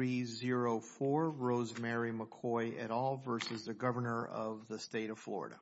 3-0-4, Rosemary McCoy et al. v. Governor of the State of Florida.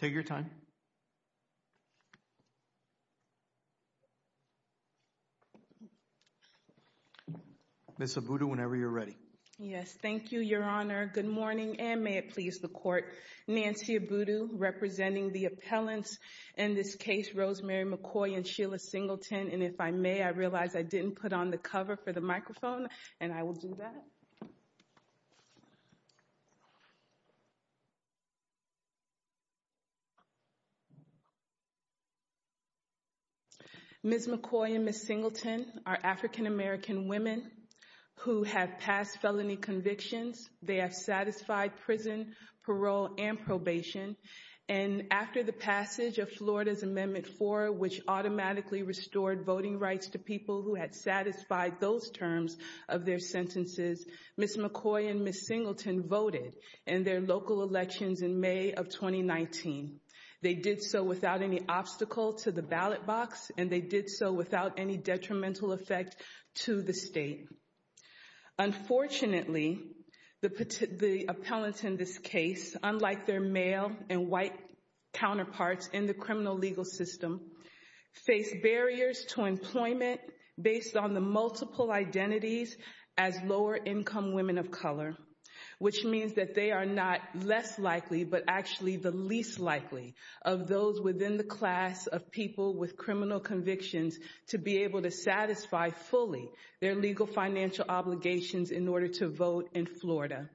Nancy Abudu, representing the appellants in this case, Rosemary McCoy and Sheila Singleton. Ms. McCoy and Ms. Singleton are African-American women who have passed felony convictions. They have satisfied prison, parole, and probation. And after the passage of Florida's Amendment 4, which automatically restored voting rights to people who had satisfied those terms of their sentences, Ms. McCoy and Ms. Singleton voted in their local elections in May of 2019. They did so without any obstacle to the ballot box, and they did so without any detrimental effect to the state. They are income women of color, which means that they are not less likely but actually the least likely of those within the class of people with criminal convictions to be able to satisfy fully their legal financial obligations in order to vote in Florida.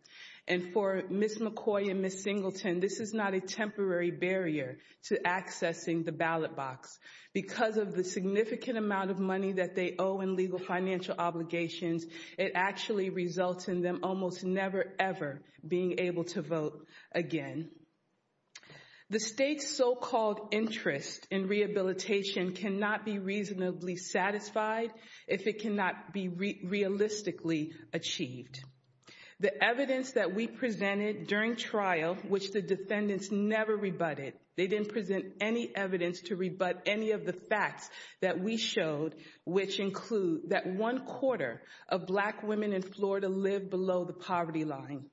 And for Ms. McCoy and Ms. Singleton, this is not a temporary barrier to accessing the ballot box. Because of the significant amount of money that they owe in legal financial obligations, it actually results in them almost never, ever being able to vote again. The state's so-called interest in rehabilitation cannot be reasonably satisfied if it cannot be realistically achieved. The evidence that we presented during trial, which the defendants never rebutted, they didn't present any evidence to rebut any of the facts that we showed, which include that one quarter of Black women in Florida live below the poverty line,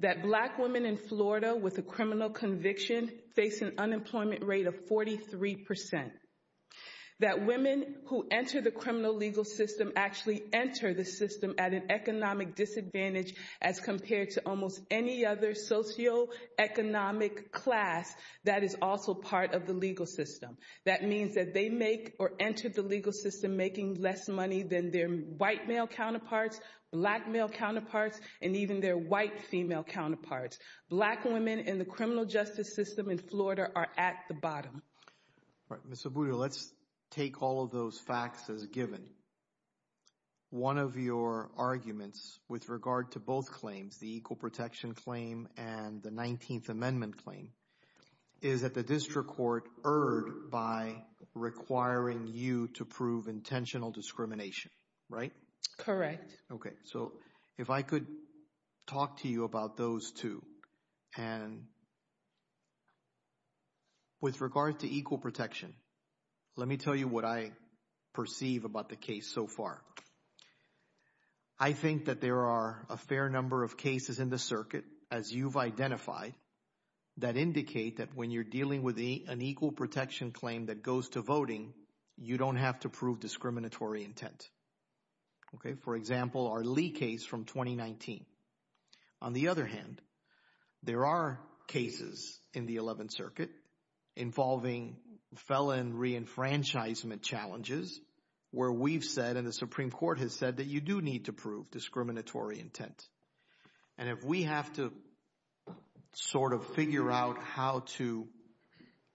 that Black women in Florida with a criminal conviction face an unemployment rate of 43 percent, that women who enter the criminal legal system actually enter the system at an economic disadvantage as compared to almost any other socioeconomic class that is also part of the legal system. That means that they make or enter the legal system making less money than their white male counterparts, Black male counterparts, and even their white female counterparts. Black women in the criminal justice system in Florida are at the bottom. Mr. Buda, let's take all of those facts as given. One of your arguments with regard to both claims, the Equal Protection Claim and the 19th Amendment Claim, is that the district court erred by requiring you to prove intentional discrimination, right? Correct. Okay, so if I could talk to you about those two. And with regard to equal protection, let me tell you what I perceive about the case so far. I think that there are a fair number of cases in the circuit, as you've identified, that indicate that when you're dealing with an equal protection claim that goes to voting, you don't have to prove discriminatory intent. Okay, for example, our Lee case from 2019. On the other hand, there are cases in the 11th Circuit involving felon reenfranchisement challenges where we've said and the Supreme Court has said that you do need to prove discriminatory intent. And if we have to sort of figure out how to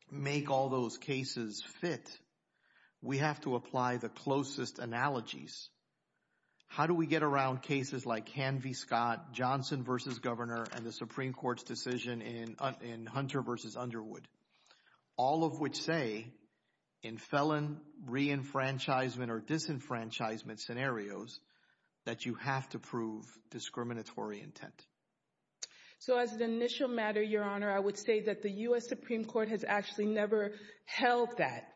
make all those cases fit, we have to apply the closest analogies. How do we get around cases like Hanvey-Scott, Johnson v. Governor, and the Supreme Court's decision in Hunter v. Underwood? All of which say in felon reenfranchisement or disenfranchisement scenarios that you have to prove discriminatory intent. So as an initial matter, Your Honor, I would say that the U.S. Supreme Court has actually never held that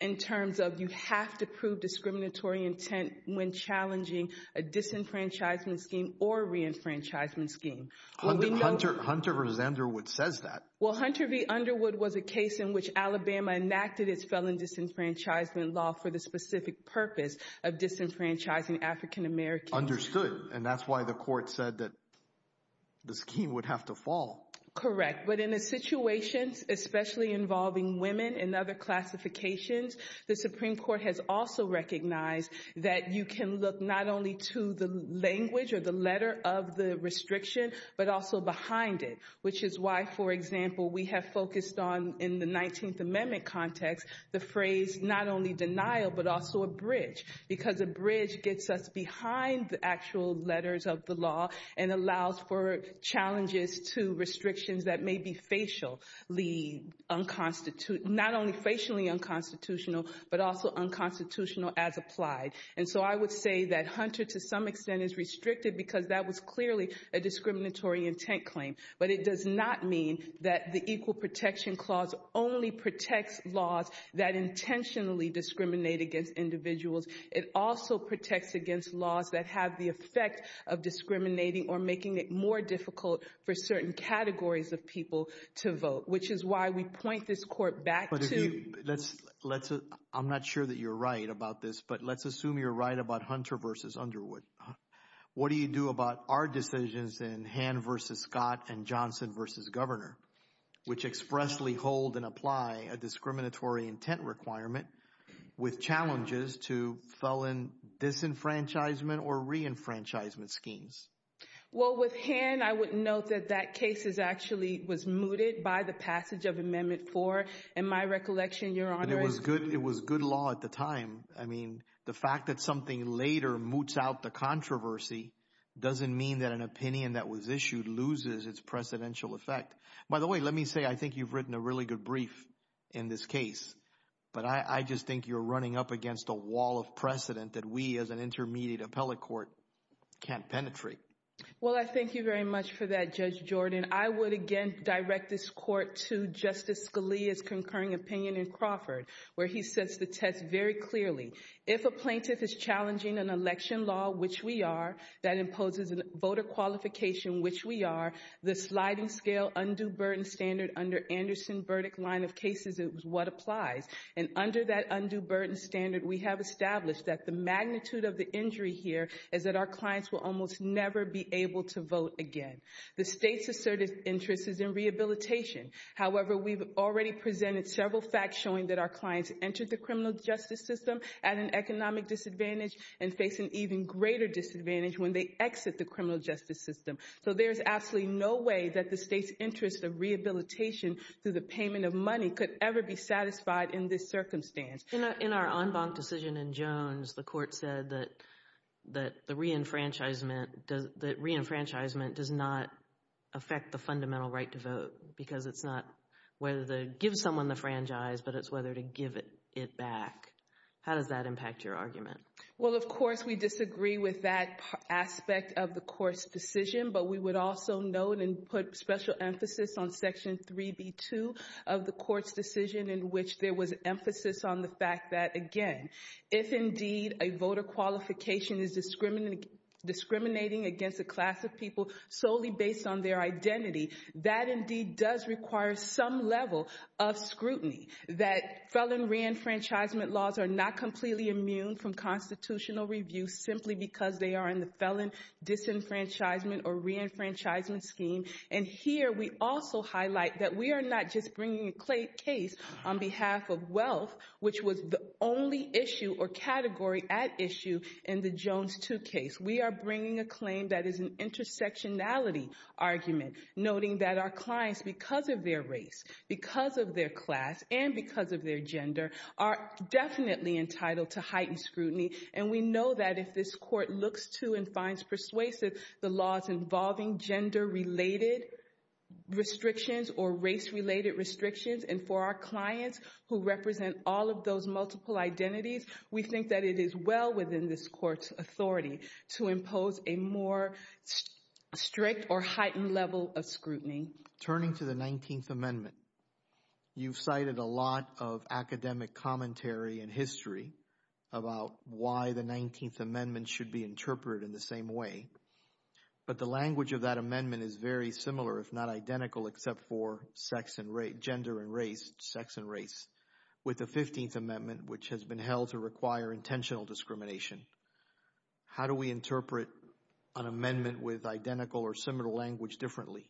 in terms of you have to prove discriminatory intent when challenging a disenfranchisement scheme or reenfranchisement scheme. Hunter v. Underwood says that. Well, Hunter v. Underwood was a case in which Alabama enacted its felon disenfranchisement law for the specific purpose of disenfranchising African Americans. Understood. And that's why the court said that the scheme would have to fall. Correct. But in a situation, especially involving women and other classifications, the Supreme Court has also recognized that you can look not only to the language or the letter of the restriction, but also behind it, which is why, for example, we have focused on in the 19th Amendment context, the phrase not only denial, but also a bridge, because a bridge gets us behind the actual letters of the law and allows for challenges to restrictions that may be facially unconstitutional, not only facially unconstitutional, but also unconstitutional as applied. And so I would say that Hunter, to some extent, is restricted because that was clearly a discriminatory intent claim. But it does not mean that the Equal Protection Clause only protects laws that intentionally discriminate against individuals. It also protects against laws that have the effect of discriminating or making it more difficult for certain categories of people to vote, which is why we point this court back to... I'm not sure that you're right about this, but let's assume you're right about Hunter v. Underwood. What do you do about our decisions in Hann v. Scott and Johnson v. Governor, which expressly hold and apply a discriminatory intent requirement with challenges to felon disenfranchisement or reenfranchisement schemes? Well, with Hann, I would note that that case actually was mooted by the passage of Amendment 4. In my recollection, Your Honor... It was good law at the time. I mean, the fact that something later moots out the controversy doesn't mean that an opinion that was issued loses its precedential effect. By the way, let me say I think you've written a really good brief in this case, but I just think you're running up against a wall of precedent that we as an intermediate appellate court can't penetrate. Well, I thank you very much for that, Judge Jordan. I would again direct this court to Justice Scalia's concurring opinion in Crawford, where he sets the test very clearly. If a plaintiff is challenging an election law, which we are, that imposes a voter qualification, which we are, the sliding scale, undue burden standard under Anderson-Burdick line of cases is what applies. And under that undue burden standard, we have established that the magnitude of the injury here is that our clients will almost never be able to vote again. The state's assertive interest is in rehabilitation. However, we've already presented several facts showing that our clients enter the criminal justice system at an economic disadvantage and face an even greater disadvantage when they exit the criminal justice system. So there's absolutely no way that the state's interest of rehabilitation through the payment of money could ever be satisfied in this circumstance. In our en banc decision in Jones, the court said that the reenfranchisement does not affect the fundamental right to vote because it's not whether to give someone the franchise, but it's whether to give it back. How does that impact your argument? Well, of course, we disagree with that aspect of the court's decision, but we would also note and put special emphasis on Section 3B2 of the court's decision in which there was emphasis on the fact that, again, if indeed a voter qualification is discriminating against a class of people solely based on their identity, that indeed does require some level of scrutiny, that felon reenfranchisement laws are not completely immune from constitutional review simply because they are in the felon disenfranchisement or reenfranchisement scheme. And here we also highlight that we are not just bringing a case on behalf of wealth, which was the only issue or category at issue in the Jones 2 case. We are bringing a claim that is an intersectionality argument, noting that our clients, because of their race, because of their class, and because of their gender, are definitely entitled to heightened scrutiny. And we know that if this court looks to and finds persuasive the laws involving gender-related restrictions or race-related restrictions, and for our clients who represent all of those multiple identities, we think that it is well within this court's authority to impose a more strict or heightened level of scrutiny. Turning to the 19th Amendment, you've cited a lot of academic commentary and history about why the 19th Amendment should be interpreted in the same way. But the language of that amendment is very similar, if not identical, except for gender and race, sex and race. With the 15th Amendment, which has been held to require intentional discrimination, how do we interpret an amendment with identical or similar language differently?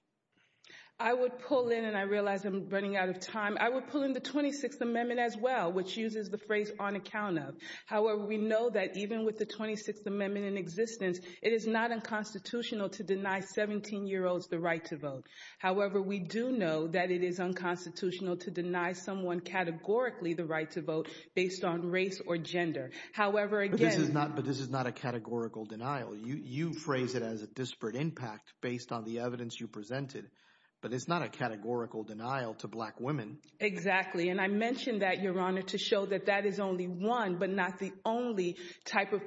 I would pull in, and I realize I'm running out of time, I would pull in the 26th Amendment as well, which uses the phrase on account of. However, we know that even with the 26th Amendment in existence, it is not unconstitutional to deny 17-year-olds the right to vote. However, we do know that it is unconstitutional to deny someone categorically the right to vote based on race or gender. However, again… But this is not a categorical denial. You phrase it as a disparate impact based on the evidence you presented, but it's not a categorical denial to black women. Exactly, and I mentioned that, Your Honor, to show that that is only one, but not the only, type of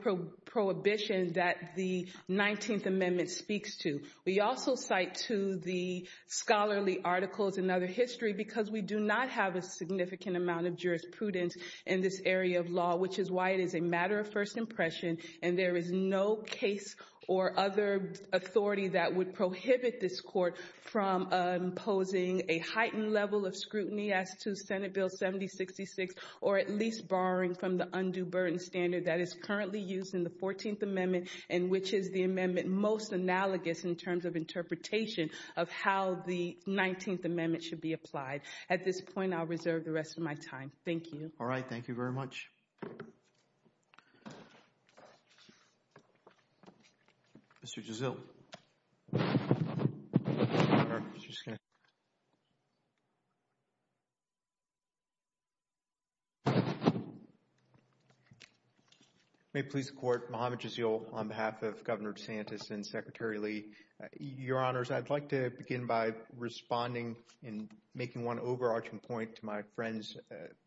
prohibition that the 19th Amendment speaks to. We also cite to the scholarly articles and other history because we do not have a significant amount of jurisprudence in this area of law, which is why it is a matter of first impression, and there is no case or other authority that would prohibit this court from imposing a heightened level of scrutiny as to Senate Bill 7066, or at least borrowing from the undue burden standard that is currently used in the 14th Amendment, and which is the amendment most analogous in terms of interpretation of how the 19th Amendment should be applied. At this point, I'll reserve the rest of my time. Thank you. All right. Thank you very much. Mr. Gisille. May it please the Court, Muhammad Gisille on behalf of Governor DeSantis and Secretary Lee. Your Honors, I'd like to begin by responding and making one overarching point to my friend's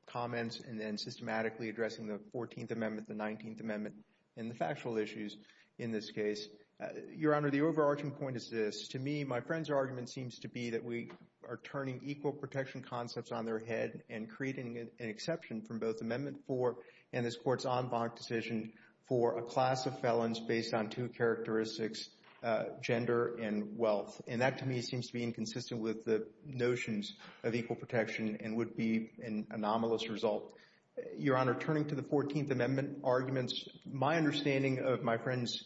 comments, and then systematically addressing the 14th Amendment, the 19th Amendment, and the factual issues in this case. Your Honor, the overarching point is this. To me, my friend's argument seems to be that we are turning equal protection concepts on their head and creating an exception from both Amendment 4 and this Court's en banc decision for a class of felons based on two characteristics, gender and wealth. And that, to me, seems to be inconsistent with the notions of equal protection and would be an anomalous result. Your Honor, turning to the 14th Amendment arguments, my understanding of my friend's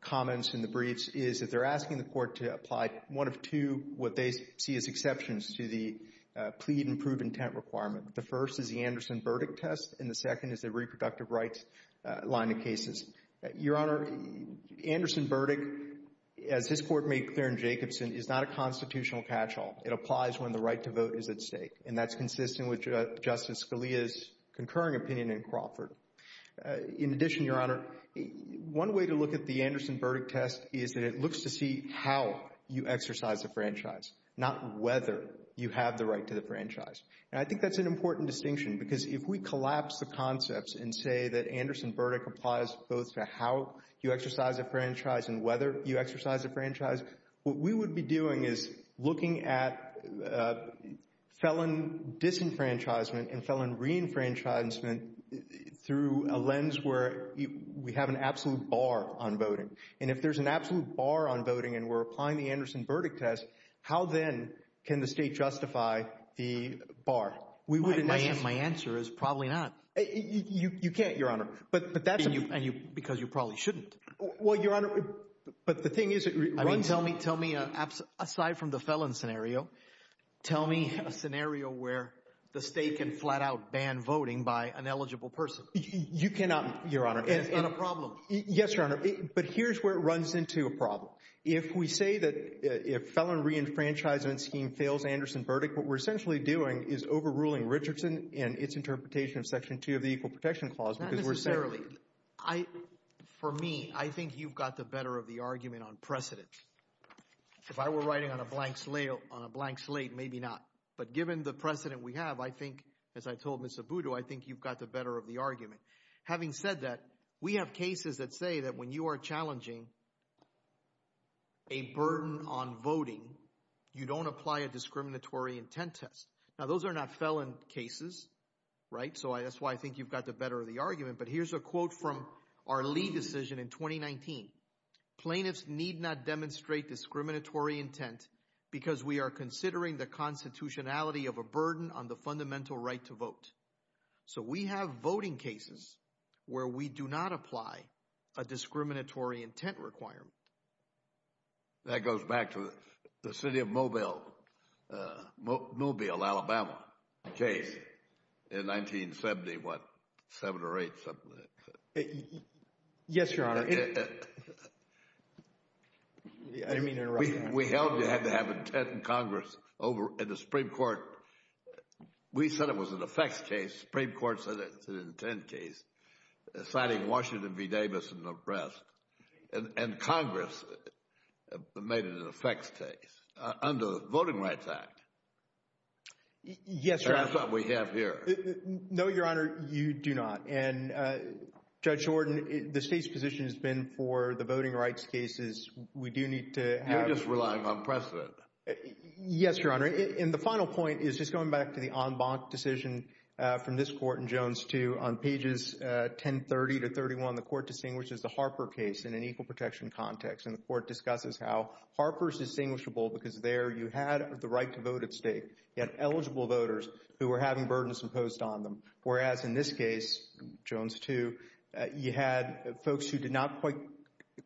comments in the briefs is that they're asking the Court to apply one of two, what they see as exceptions to the plead and prove intent requirement. The first is the Anderson-Burdick test, and the second is the reproductive rights line of cases. Your Honor, Anderson-Burdick, as this Court made clear in Jacobson, is not a constitutional catch-all. It applies when the right to vote is at stake, and that's consistent with Justice Scalia's concurring opinion in Crawford. In addition, Your Honor, one way to look at the Anderson-Burdick test is that it looks to see how you exercise a franchise, not whether you have the right to the franchise. And I think that's an important distinction because if we collapse the concepts and say that Anderson-Burdick applies both to how you exercise a franchise and whether you exercise a franchise, what we would be doing is looking at felon disenfranchisement and felon reenfranchisement through a lens where we have an absolute bar on voting. And if there's an absolute bar on voting and we're applying the Anderson-Burdick test, how then can the state justify the bar? My answer is probably not. You can't, Your Honor. Because you probably shouldn't. Well, Your Honor, but the thing is it runs – Tell me, aside from the felon scenario, tell me a scenario where the state can flat-out ban voting by an eligible person. You cannot, Your Honor – And it's not a problem. Yes, Your Honor, but here's where it runs into a problem. If we say that if felon reenfranchisement scheme fails Anderson-Burdick, what we're essentially doing is overruling Richardson and its interpretation of Section 2 of the Equal Protection Clause because we're saying – For me, I think you've got the better of the argument on precedent. If I were writing on a blank slate, maybe not. But given the precedent we have, I think, as I told Ms. Abudo, I think you've got the better of the argument. Having said that, we have cases that say that when you are challenging a burden on voting, you don't apply a discriminatory intent test. Now, those are not felon cases, right? So that's why I think you've got the better of the argument. But here's a quote from our Lee decision in 2019. Plaintiffs need not demonstrate discriminatory intent because we are considering the constitutionality of a burden on the fundamental right to vote. So we have voting cases where we do not apply a discriminatory intent requirement. That goes back to the city of Mobile, Alabama case in 1970, what, 7 or 8, something like that. Yes, Your Honor. I didn't mean to interrupt. We held you had to have intent in Congress. In the Supreme Court, we said it was an effects case. The Supreme Court said it's an intent case, citing Washington v. Davis and the rest. And Congress made it an effects case under the Voting Rights Act. Yes, Your Honor. And that's what we have here. No, Your Honor, you do not. And Judge Jordan, the state's position has been for the voting rights cases, we do need to have— You're just relying on precedent. Yes, Your Honor. And the final point is just going back to the en banc decision from this court in Jones 2, on pages 1030 to 1031, the court distinguishes the Harper case in an equal protection context. And the court discusses how Harper is distinguishable because there you had the right to vote at stake. You had eligible voters who were having burdens imposed on them, whereas in this case, Jones 2, you had folks who did not quite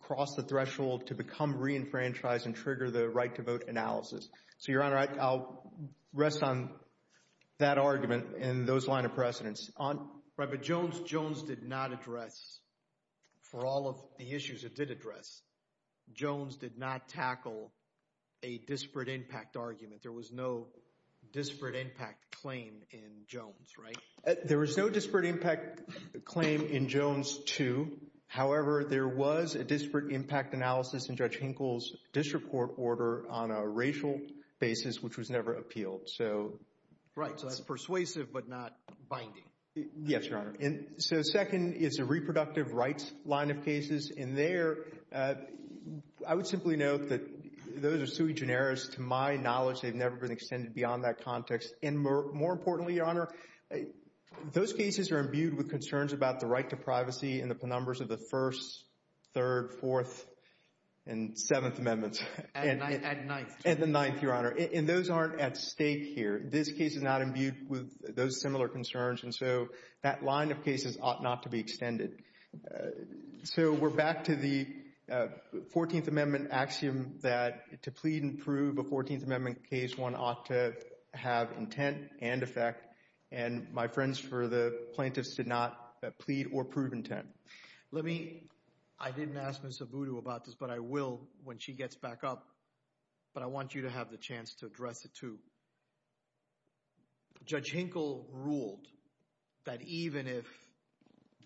cross the threshold to become re-enfranchised and trigger the right to vote analysis. So, Your Honor, I'll rest on that argument and those line of precedence. Right, but Jones did not address, for all of the issues it did address, Jones did not tackle a disparate impact argument. There was no disparate impact claim in Jones, right? There was no disparate impact claim in Jones 2. However, there was a disparate impact analysis in Judge Hinkle's district court order on a racial basis, which was never appealed. So— Right, so that's persuasive but not binding. Yes, Your Honor. So second is a reproductive rights line of cases. And there, I would simply note that those are sui generis. To my knowledge, they've never been extended beyond that context. And more importantly, Your Honor, those cases are imbued with concerns about the right to privacy in the numbers of the First, Third, Fourth, and Seventh Amendments. And Ninth. And the Ninth, Your Honor. And those aren't at stake here. This case is not imbued with those similar concerns, and so that line of cases ought not to be extended. So we're back to the 14th Amendment axiom that to plead and prove a 14th Amendment case, one ought to have intent and effect. And my friends for the plaintiffs did not plead or prove intent. Let me—I didn't ask Ms. Abudu about this, but I will when she gets back up. But I want you to have the chance to address it too. Judge Hinkle ruled that even if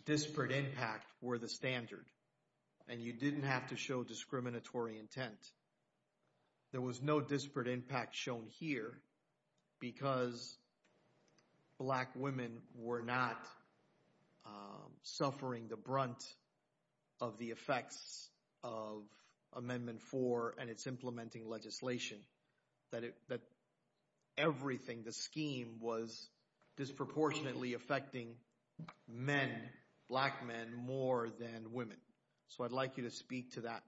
disparate impact were the standard and you didn't have to show discriminatory intent, there was no disparate impact shown here because black women were not suffering the brunt of the effects of Amendment 4 and its implementing legislation. That everything, the scheme, was disproportionately affecting men, black men, more than women. So I'd like you to speak to that.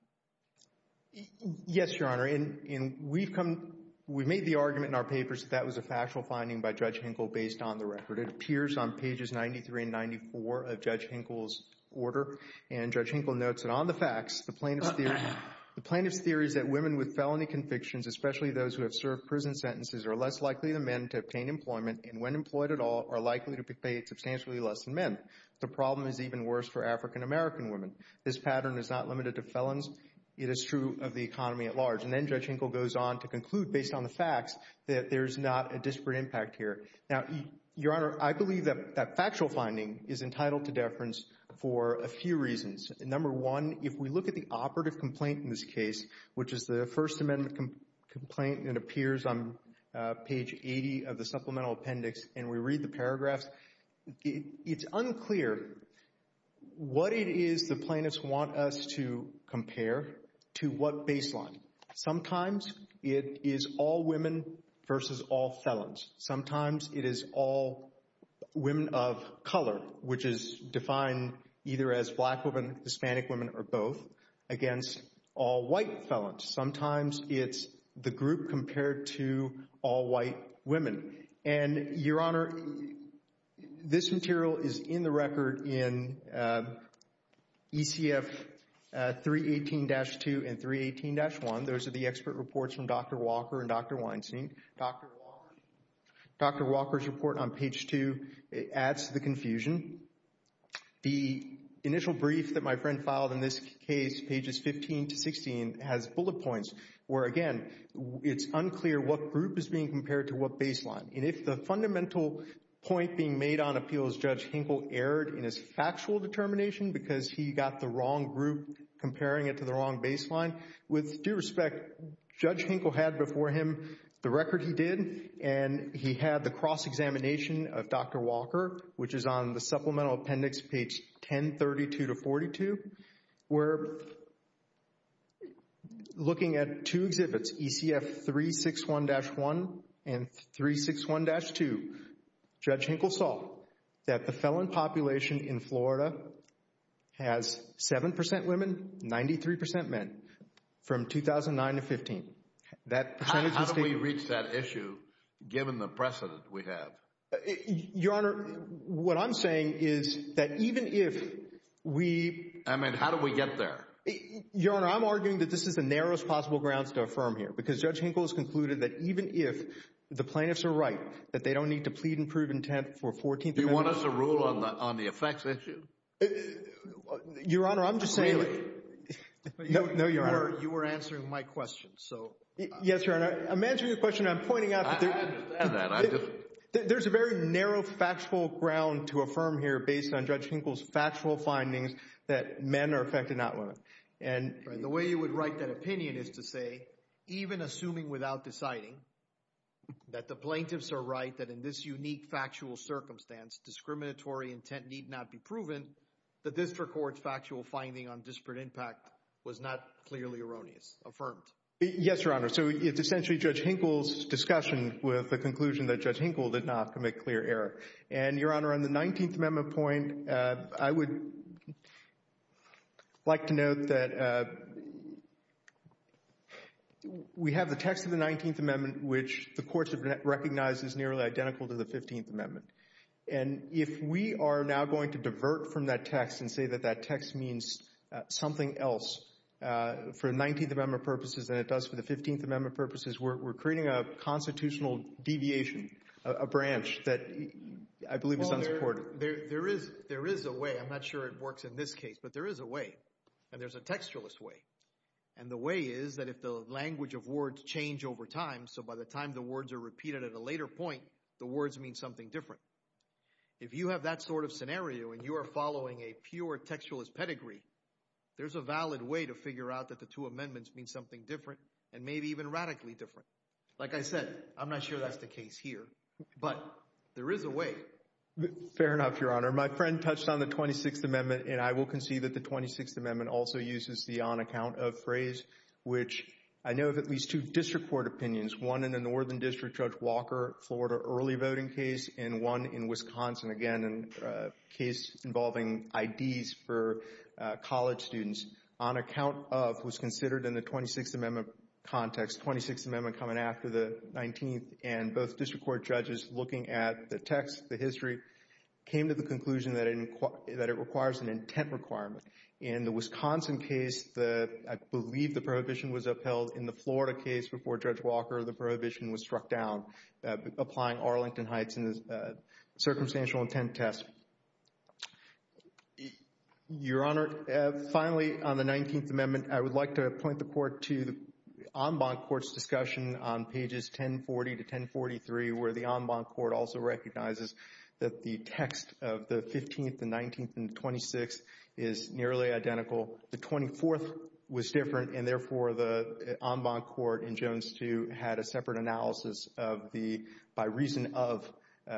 Yes, Your Honor. And we've come—we made the argument in our papers that that was a factual finding by Judge Hinkle based on the record. It appears on pages 93 and 94 of Judge Hinkle's order. And Judge Hinkle notes that on the facts, the plaintiff's theory is that women with felony convictions, especially those who have served prison sentences, are less likely than men to obtain employment and, when employed at all, are likely to pay substantially less than men. The problem is even worse for African-American women. This pattern is not limited to felons. It is true of the economy at large. And then Judge Hinkle goes on to conclude, based on the facts, that there's not a disparate impact here. Now, Your Honor, I believe that that factual finding is entitled to deference for a few reasons. Number one, if we look at the operative complaint in this case, which is the First Amendment complaint, and it appears on page 80 of the supplemental appendix, and we read the paragraphs, it's unclear what it is the plaintiffs want us to compare to what baseline. Sometimes it is all women versus all felons. Sometimes it is all women of color, which is defined either as black women, Hispanic women, or both, against all white felons. Sometimes it's the group compared to all white women. And, Your Honor, this material is in the record in ECF 318-2 and 318-1. Those are the expert reports from Dr. Walker and Dr. Weinstein. Dr. Walker's report on page 2 adds to the confusion. The initial brief that my friend filed in this case, pages 15 to 16, has bullet points where, again, it's unclear what group is being compared to what baseline. And if the fundamental point being made on appeals Judge Hinkle erred in his factual determination because he got the wrong group comparing it to the wrong baseline, with due respect, Judge Hinkle had before him the record he did, and he had the cross-examination of Dr. Walker, which is on the supplemental appendix, page 1032-42. We're looking at two exhibits, ECF 361-1 and 361-2. Judge Hinkle saw that the felon population in Florida has 7% women, 93% men, from 2009 to 2015. How do we reach that issue given the precedent we have? Your Honor, what I'm saying is that even if we— I mean, how do we get there? Your Honor, I'm arguing that this is the narrowest possible grounds to affirm here because Judge Hinkle has concluded that even if the plaintiffs are right, that they don't need to plead and prove intent for 14th Amendment— Do you want us to rule on the effects issue? Your Honor, I'm just saying— Really? No, Your Honor. But you were answering my question, so— Yes, Your Honor. I'm answering your question. I'm pointing out that there's— I understand that. I just— There's a very narrow factual ground to affirm here based on Judge Hinkle's factual findings that men are affected, not women. And— The way you would write that opinion is to say even assuming without deciding that the plaintiffs are right, that in this unique factual circumstance, discriminatory intent need not be proven, the district court's factual finding on disparate impact was not clearly erroneous, affirmed. Yes, Your Honor. So it's essentially Judge Hinkle's discussion with the conclusion that Judge Hinkle did not commit clear error. And, Your Honor, on the 19th Amendment point, I would like to note that we have the text of the 19th Amendment, which the courts have recognized is nearly identical to the 15th Amendment. And if we are now going to divert from that text and say that that text means something else for the 19th Amendment purposes than it does for the 15th Amendment purposes, we're creating a constitutional deviation, a branch that I believe is unsupported. There is a way. I'm not sure it works in this case, but there is a way. And there's a textualist way. And the way is that if the language of words change over time, so by the time the words are repeated at a later point, the words mean something different. If you have that sort of scenario and you are following a pure textualist pedigree, there's a valid way to figure out that the two amendments mean something different and maybe even radically different. Like I said, I'm not sure that's the case here, but there is a way. Fair enough, Your Honor. My friend touched on the 26th Amendment, and I will concede that the 26th Amendment also uses the on-account-of phrase, which I know of at least two district court opinions, one in the Northern District Judge Walker Florida early voting case and one in Wisconsin, again, a case involving IDs for college students. On-account-of was considered in the 26th Amendment context, 26th Amendment coming after the 19th, and both district court judges looking at the text, the history, came to the conclusion that it requires an intent requirement. In the Wisconsin case, I believe the prohibition was upheld. In the Florida case before Judge Walker, the prohibition was struck down, applying Arlington Heights in the circumstantial intent test. Your Honor, finally, on the 19th Amendment, I would like to point the Court to the en banc court's discussion on pages 1040 to 1043, where the en banc court also recognizes that the text of the 15th and 19th and 26th is nearly identical. The 24th was different, and therefore, the en banc court in Jones 2 had a separate analysis of the by reason of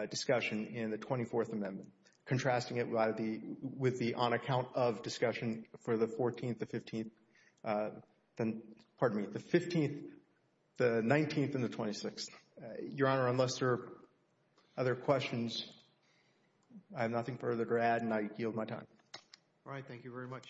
discussion in the 24th Amendment, contrasting it with the on-account-of discussion for the 14th, the 15th, the 19th, and the 26th. Your Honor, unless there are other questions, I have nothing further to add, and I yield my time. All right, thank you very much.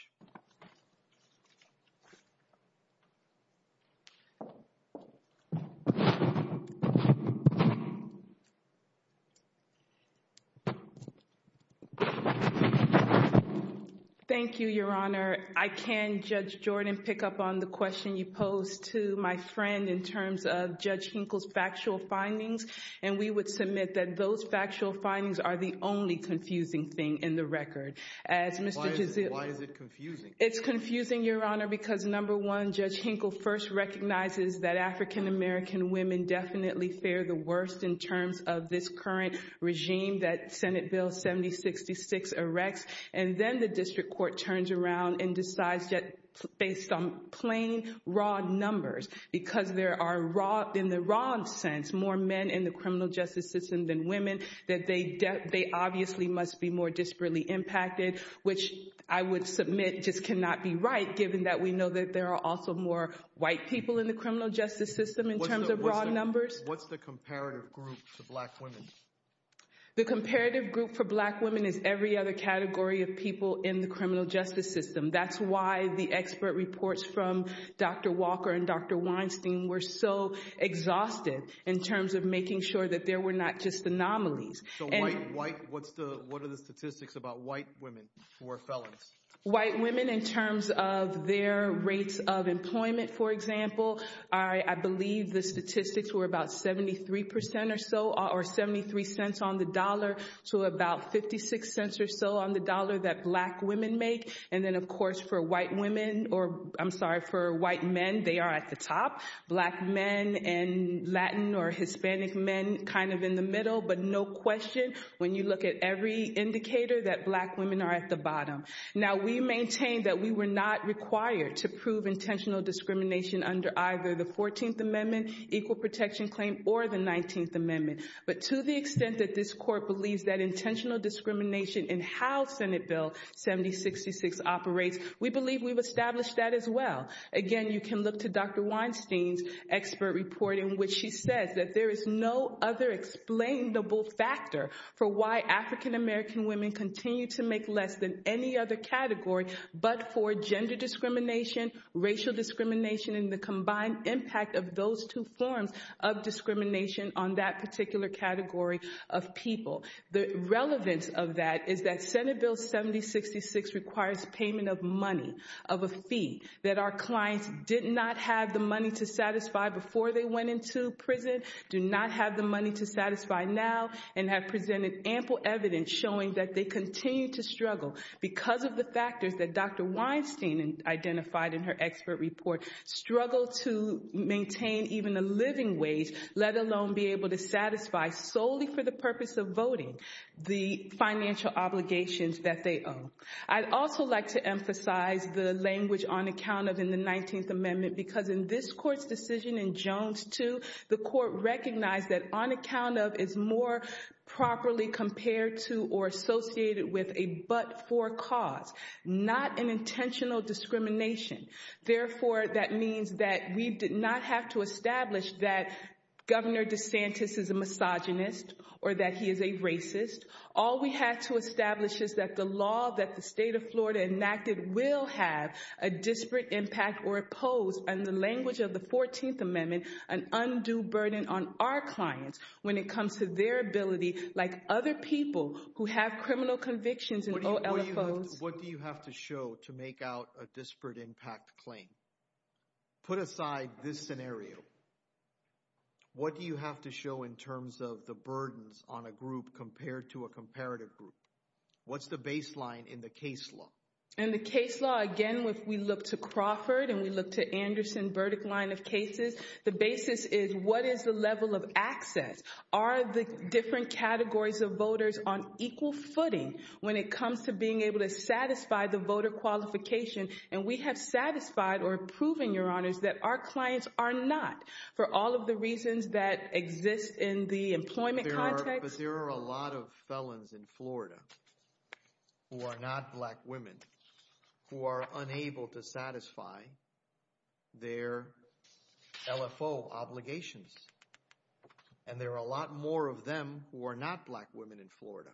Thank you, Your Honor. I can, Judge Jordan, pick up on the question you posed to my friend in terms of Judge Hinkle's factual findings, and we would submit that those factual findings are the only confusing thing in the record. Why is it confusing? It's confusing, Your Honor, because, number one, Judge Hinkle first recognizes that African-American women definitely fare the worst in terms of this current regime that Senate Bill 7066 erects. And then the district court turns around and decides that, based on plain, raw numbers, because there are, in the raw sense, more men in the criminal justice system than women, that they obviously must be more disparately impacted, which I would submit just cannot be right, given that we know that there are also more white people in the criminal justice system in terms of raw numbers. What's the comparative group to black women? The comparative group for black women is every other category of people in the criminal justice system. That's why the expert reports from Dr. Walker and Dr. Weinstein were so exhaustive in terms of making sure that there were not just anomalies. So white, what are the statistics about white women who are felons? White women in terms of their rates of employment, for example, I believe the statistics were about 73% or so, or 73 cents on the dollar to about 56 cents or so on the dollar that black women make. And then, of course, for white women, or I'm sorry, for white men, they are at the top. Black men and Latin or Hispanic men kind of in the middle. But no question, when you look at every indicator, that black women are at the bottom. Now, we maintain that we were not required to prove intentional discrimination under either the 14th Amendment, Equal Protection Claim, or the 19th Amendment. But to the extent that this court believes that intentional discrimination in how Senate Bill 7066 operates, we believe we've established that as well. Again, you can look to Dr. Weinstein's expert report in which she says that there is no other explainable factor for why African-American women continue to make less than any other category, but for gender discrimination, racial discrimination, and the combined impact of those two forms of discrimination on that particular category of people. The relevance of that is that Senate Bill 7066 requires payment of money, of a fee, that our clients did not have the money to satisfy before they went into prison, do not have the money to satisfy now, and have presented ample evidence showing that they continue to struggle because of the factors that Dr. Weinstein identified in her expert report struggle to maintain even a living wage, let alone be able to satisfy solely for the purpose of voting the financial obligations that they owe. I'd also like to emphasize the language on account of in the 19th Amendment because in this court's decision in Jones 2, the court recognized that on account of is more properly compared to or associated with a but for cause, not an intentional discrimination. Therefore, that means that we did not have to establish that Governor DeSantis is a misogynist or that he is a racist. All we had to establish is that the law that the state of Florida enacted will have a disparate impact or oppose, in the language of the 14th Amendment, an undue burden on our clients when it comes to their ability, like other people who have criminal convictions and OLFOs. What do you have to show to make out a disparate impact claim? Put aside this scenario. What do you have to show in terms of the burdens on a group compared to a comparative group? What's the baseline in the case law? In the case law, again, if we look to Crawford and we look to Anderson-Burdick line of cases, the basis is what is the level of access? Are the different categories of voters on equal footing when it comes to being able to satisfy the voter qualification? And we have satisfied or proven, Your Honors, that our clients are not for all of the reasons that exist in the employment context. But there are a lot of felons in Florida who are not black women, who are unable to satisfy their LFO obligations. And there are a lot more of them who are not black women in Florida.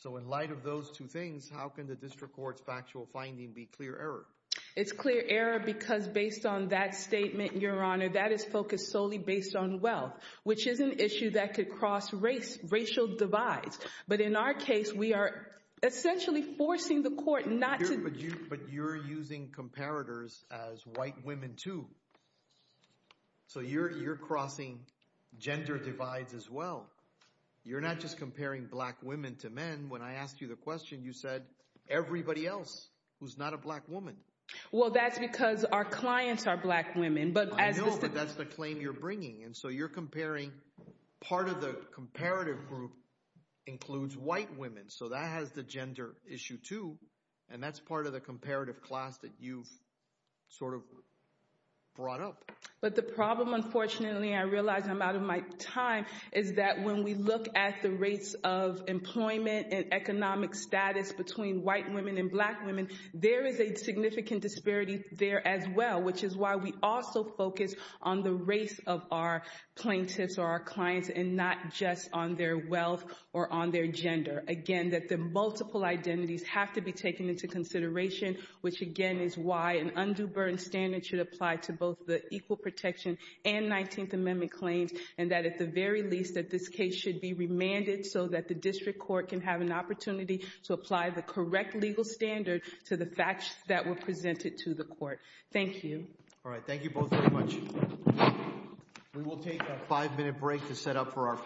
So in light of those two things, how can the district court's factual finding be clear error? It's clear error because based on that statement, Your Honor, that is focused solely based on wealth, which is an issue that could cross race, racial divides. But in our case, we are essentially forcing the court not to. But you're using comparators as white women, too. So you're crossing gender divides as well. You're not just comparing black women to men. When I asked you the question, you said everybody else who's not a black woman. Well, that's because our clients are black women. I know, but that's the claim you're bringing. And so you're comparing part of the comparative group includes white women. So that has the gender issue, too. And that's part of the comparative class that you've sort of brought up. But the problem, unfortunately, I realize I'm out of my time, is that when we look at the rates of employment and economic status between white women and black women, there is a significant disparity there as well, which is why we also focus on the race of our plaintiffs or our clients and not just on their wealth or on their gender. Again, that the multiple identities have to be taken into consideration, which again is why an undue burden standard should apply to both the Equal Protection and 19th Amendment claims. And that at the very least, that this case should be remanded so that the district court can have an opportunity to apply the correct legal standard to the facts that were presented to the court. Thank you. All right. Thank you both very much. We will take a five minute break to set up for our final case.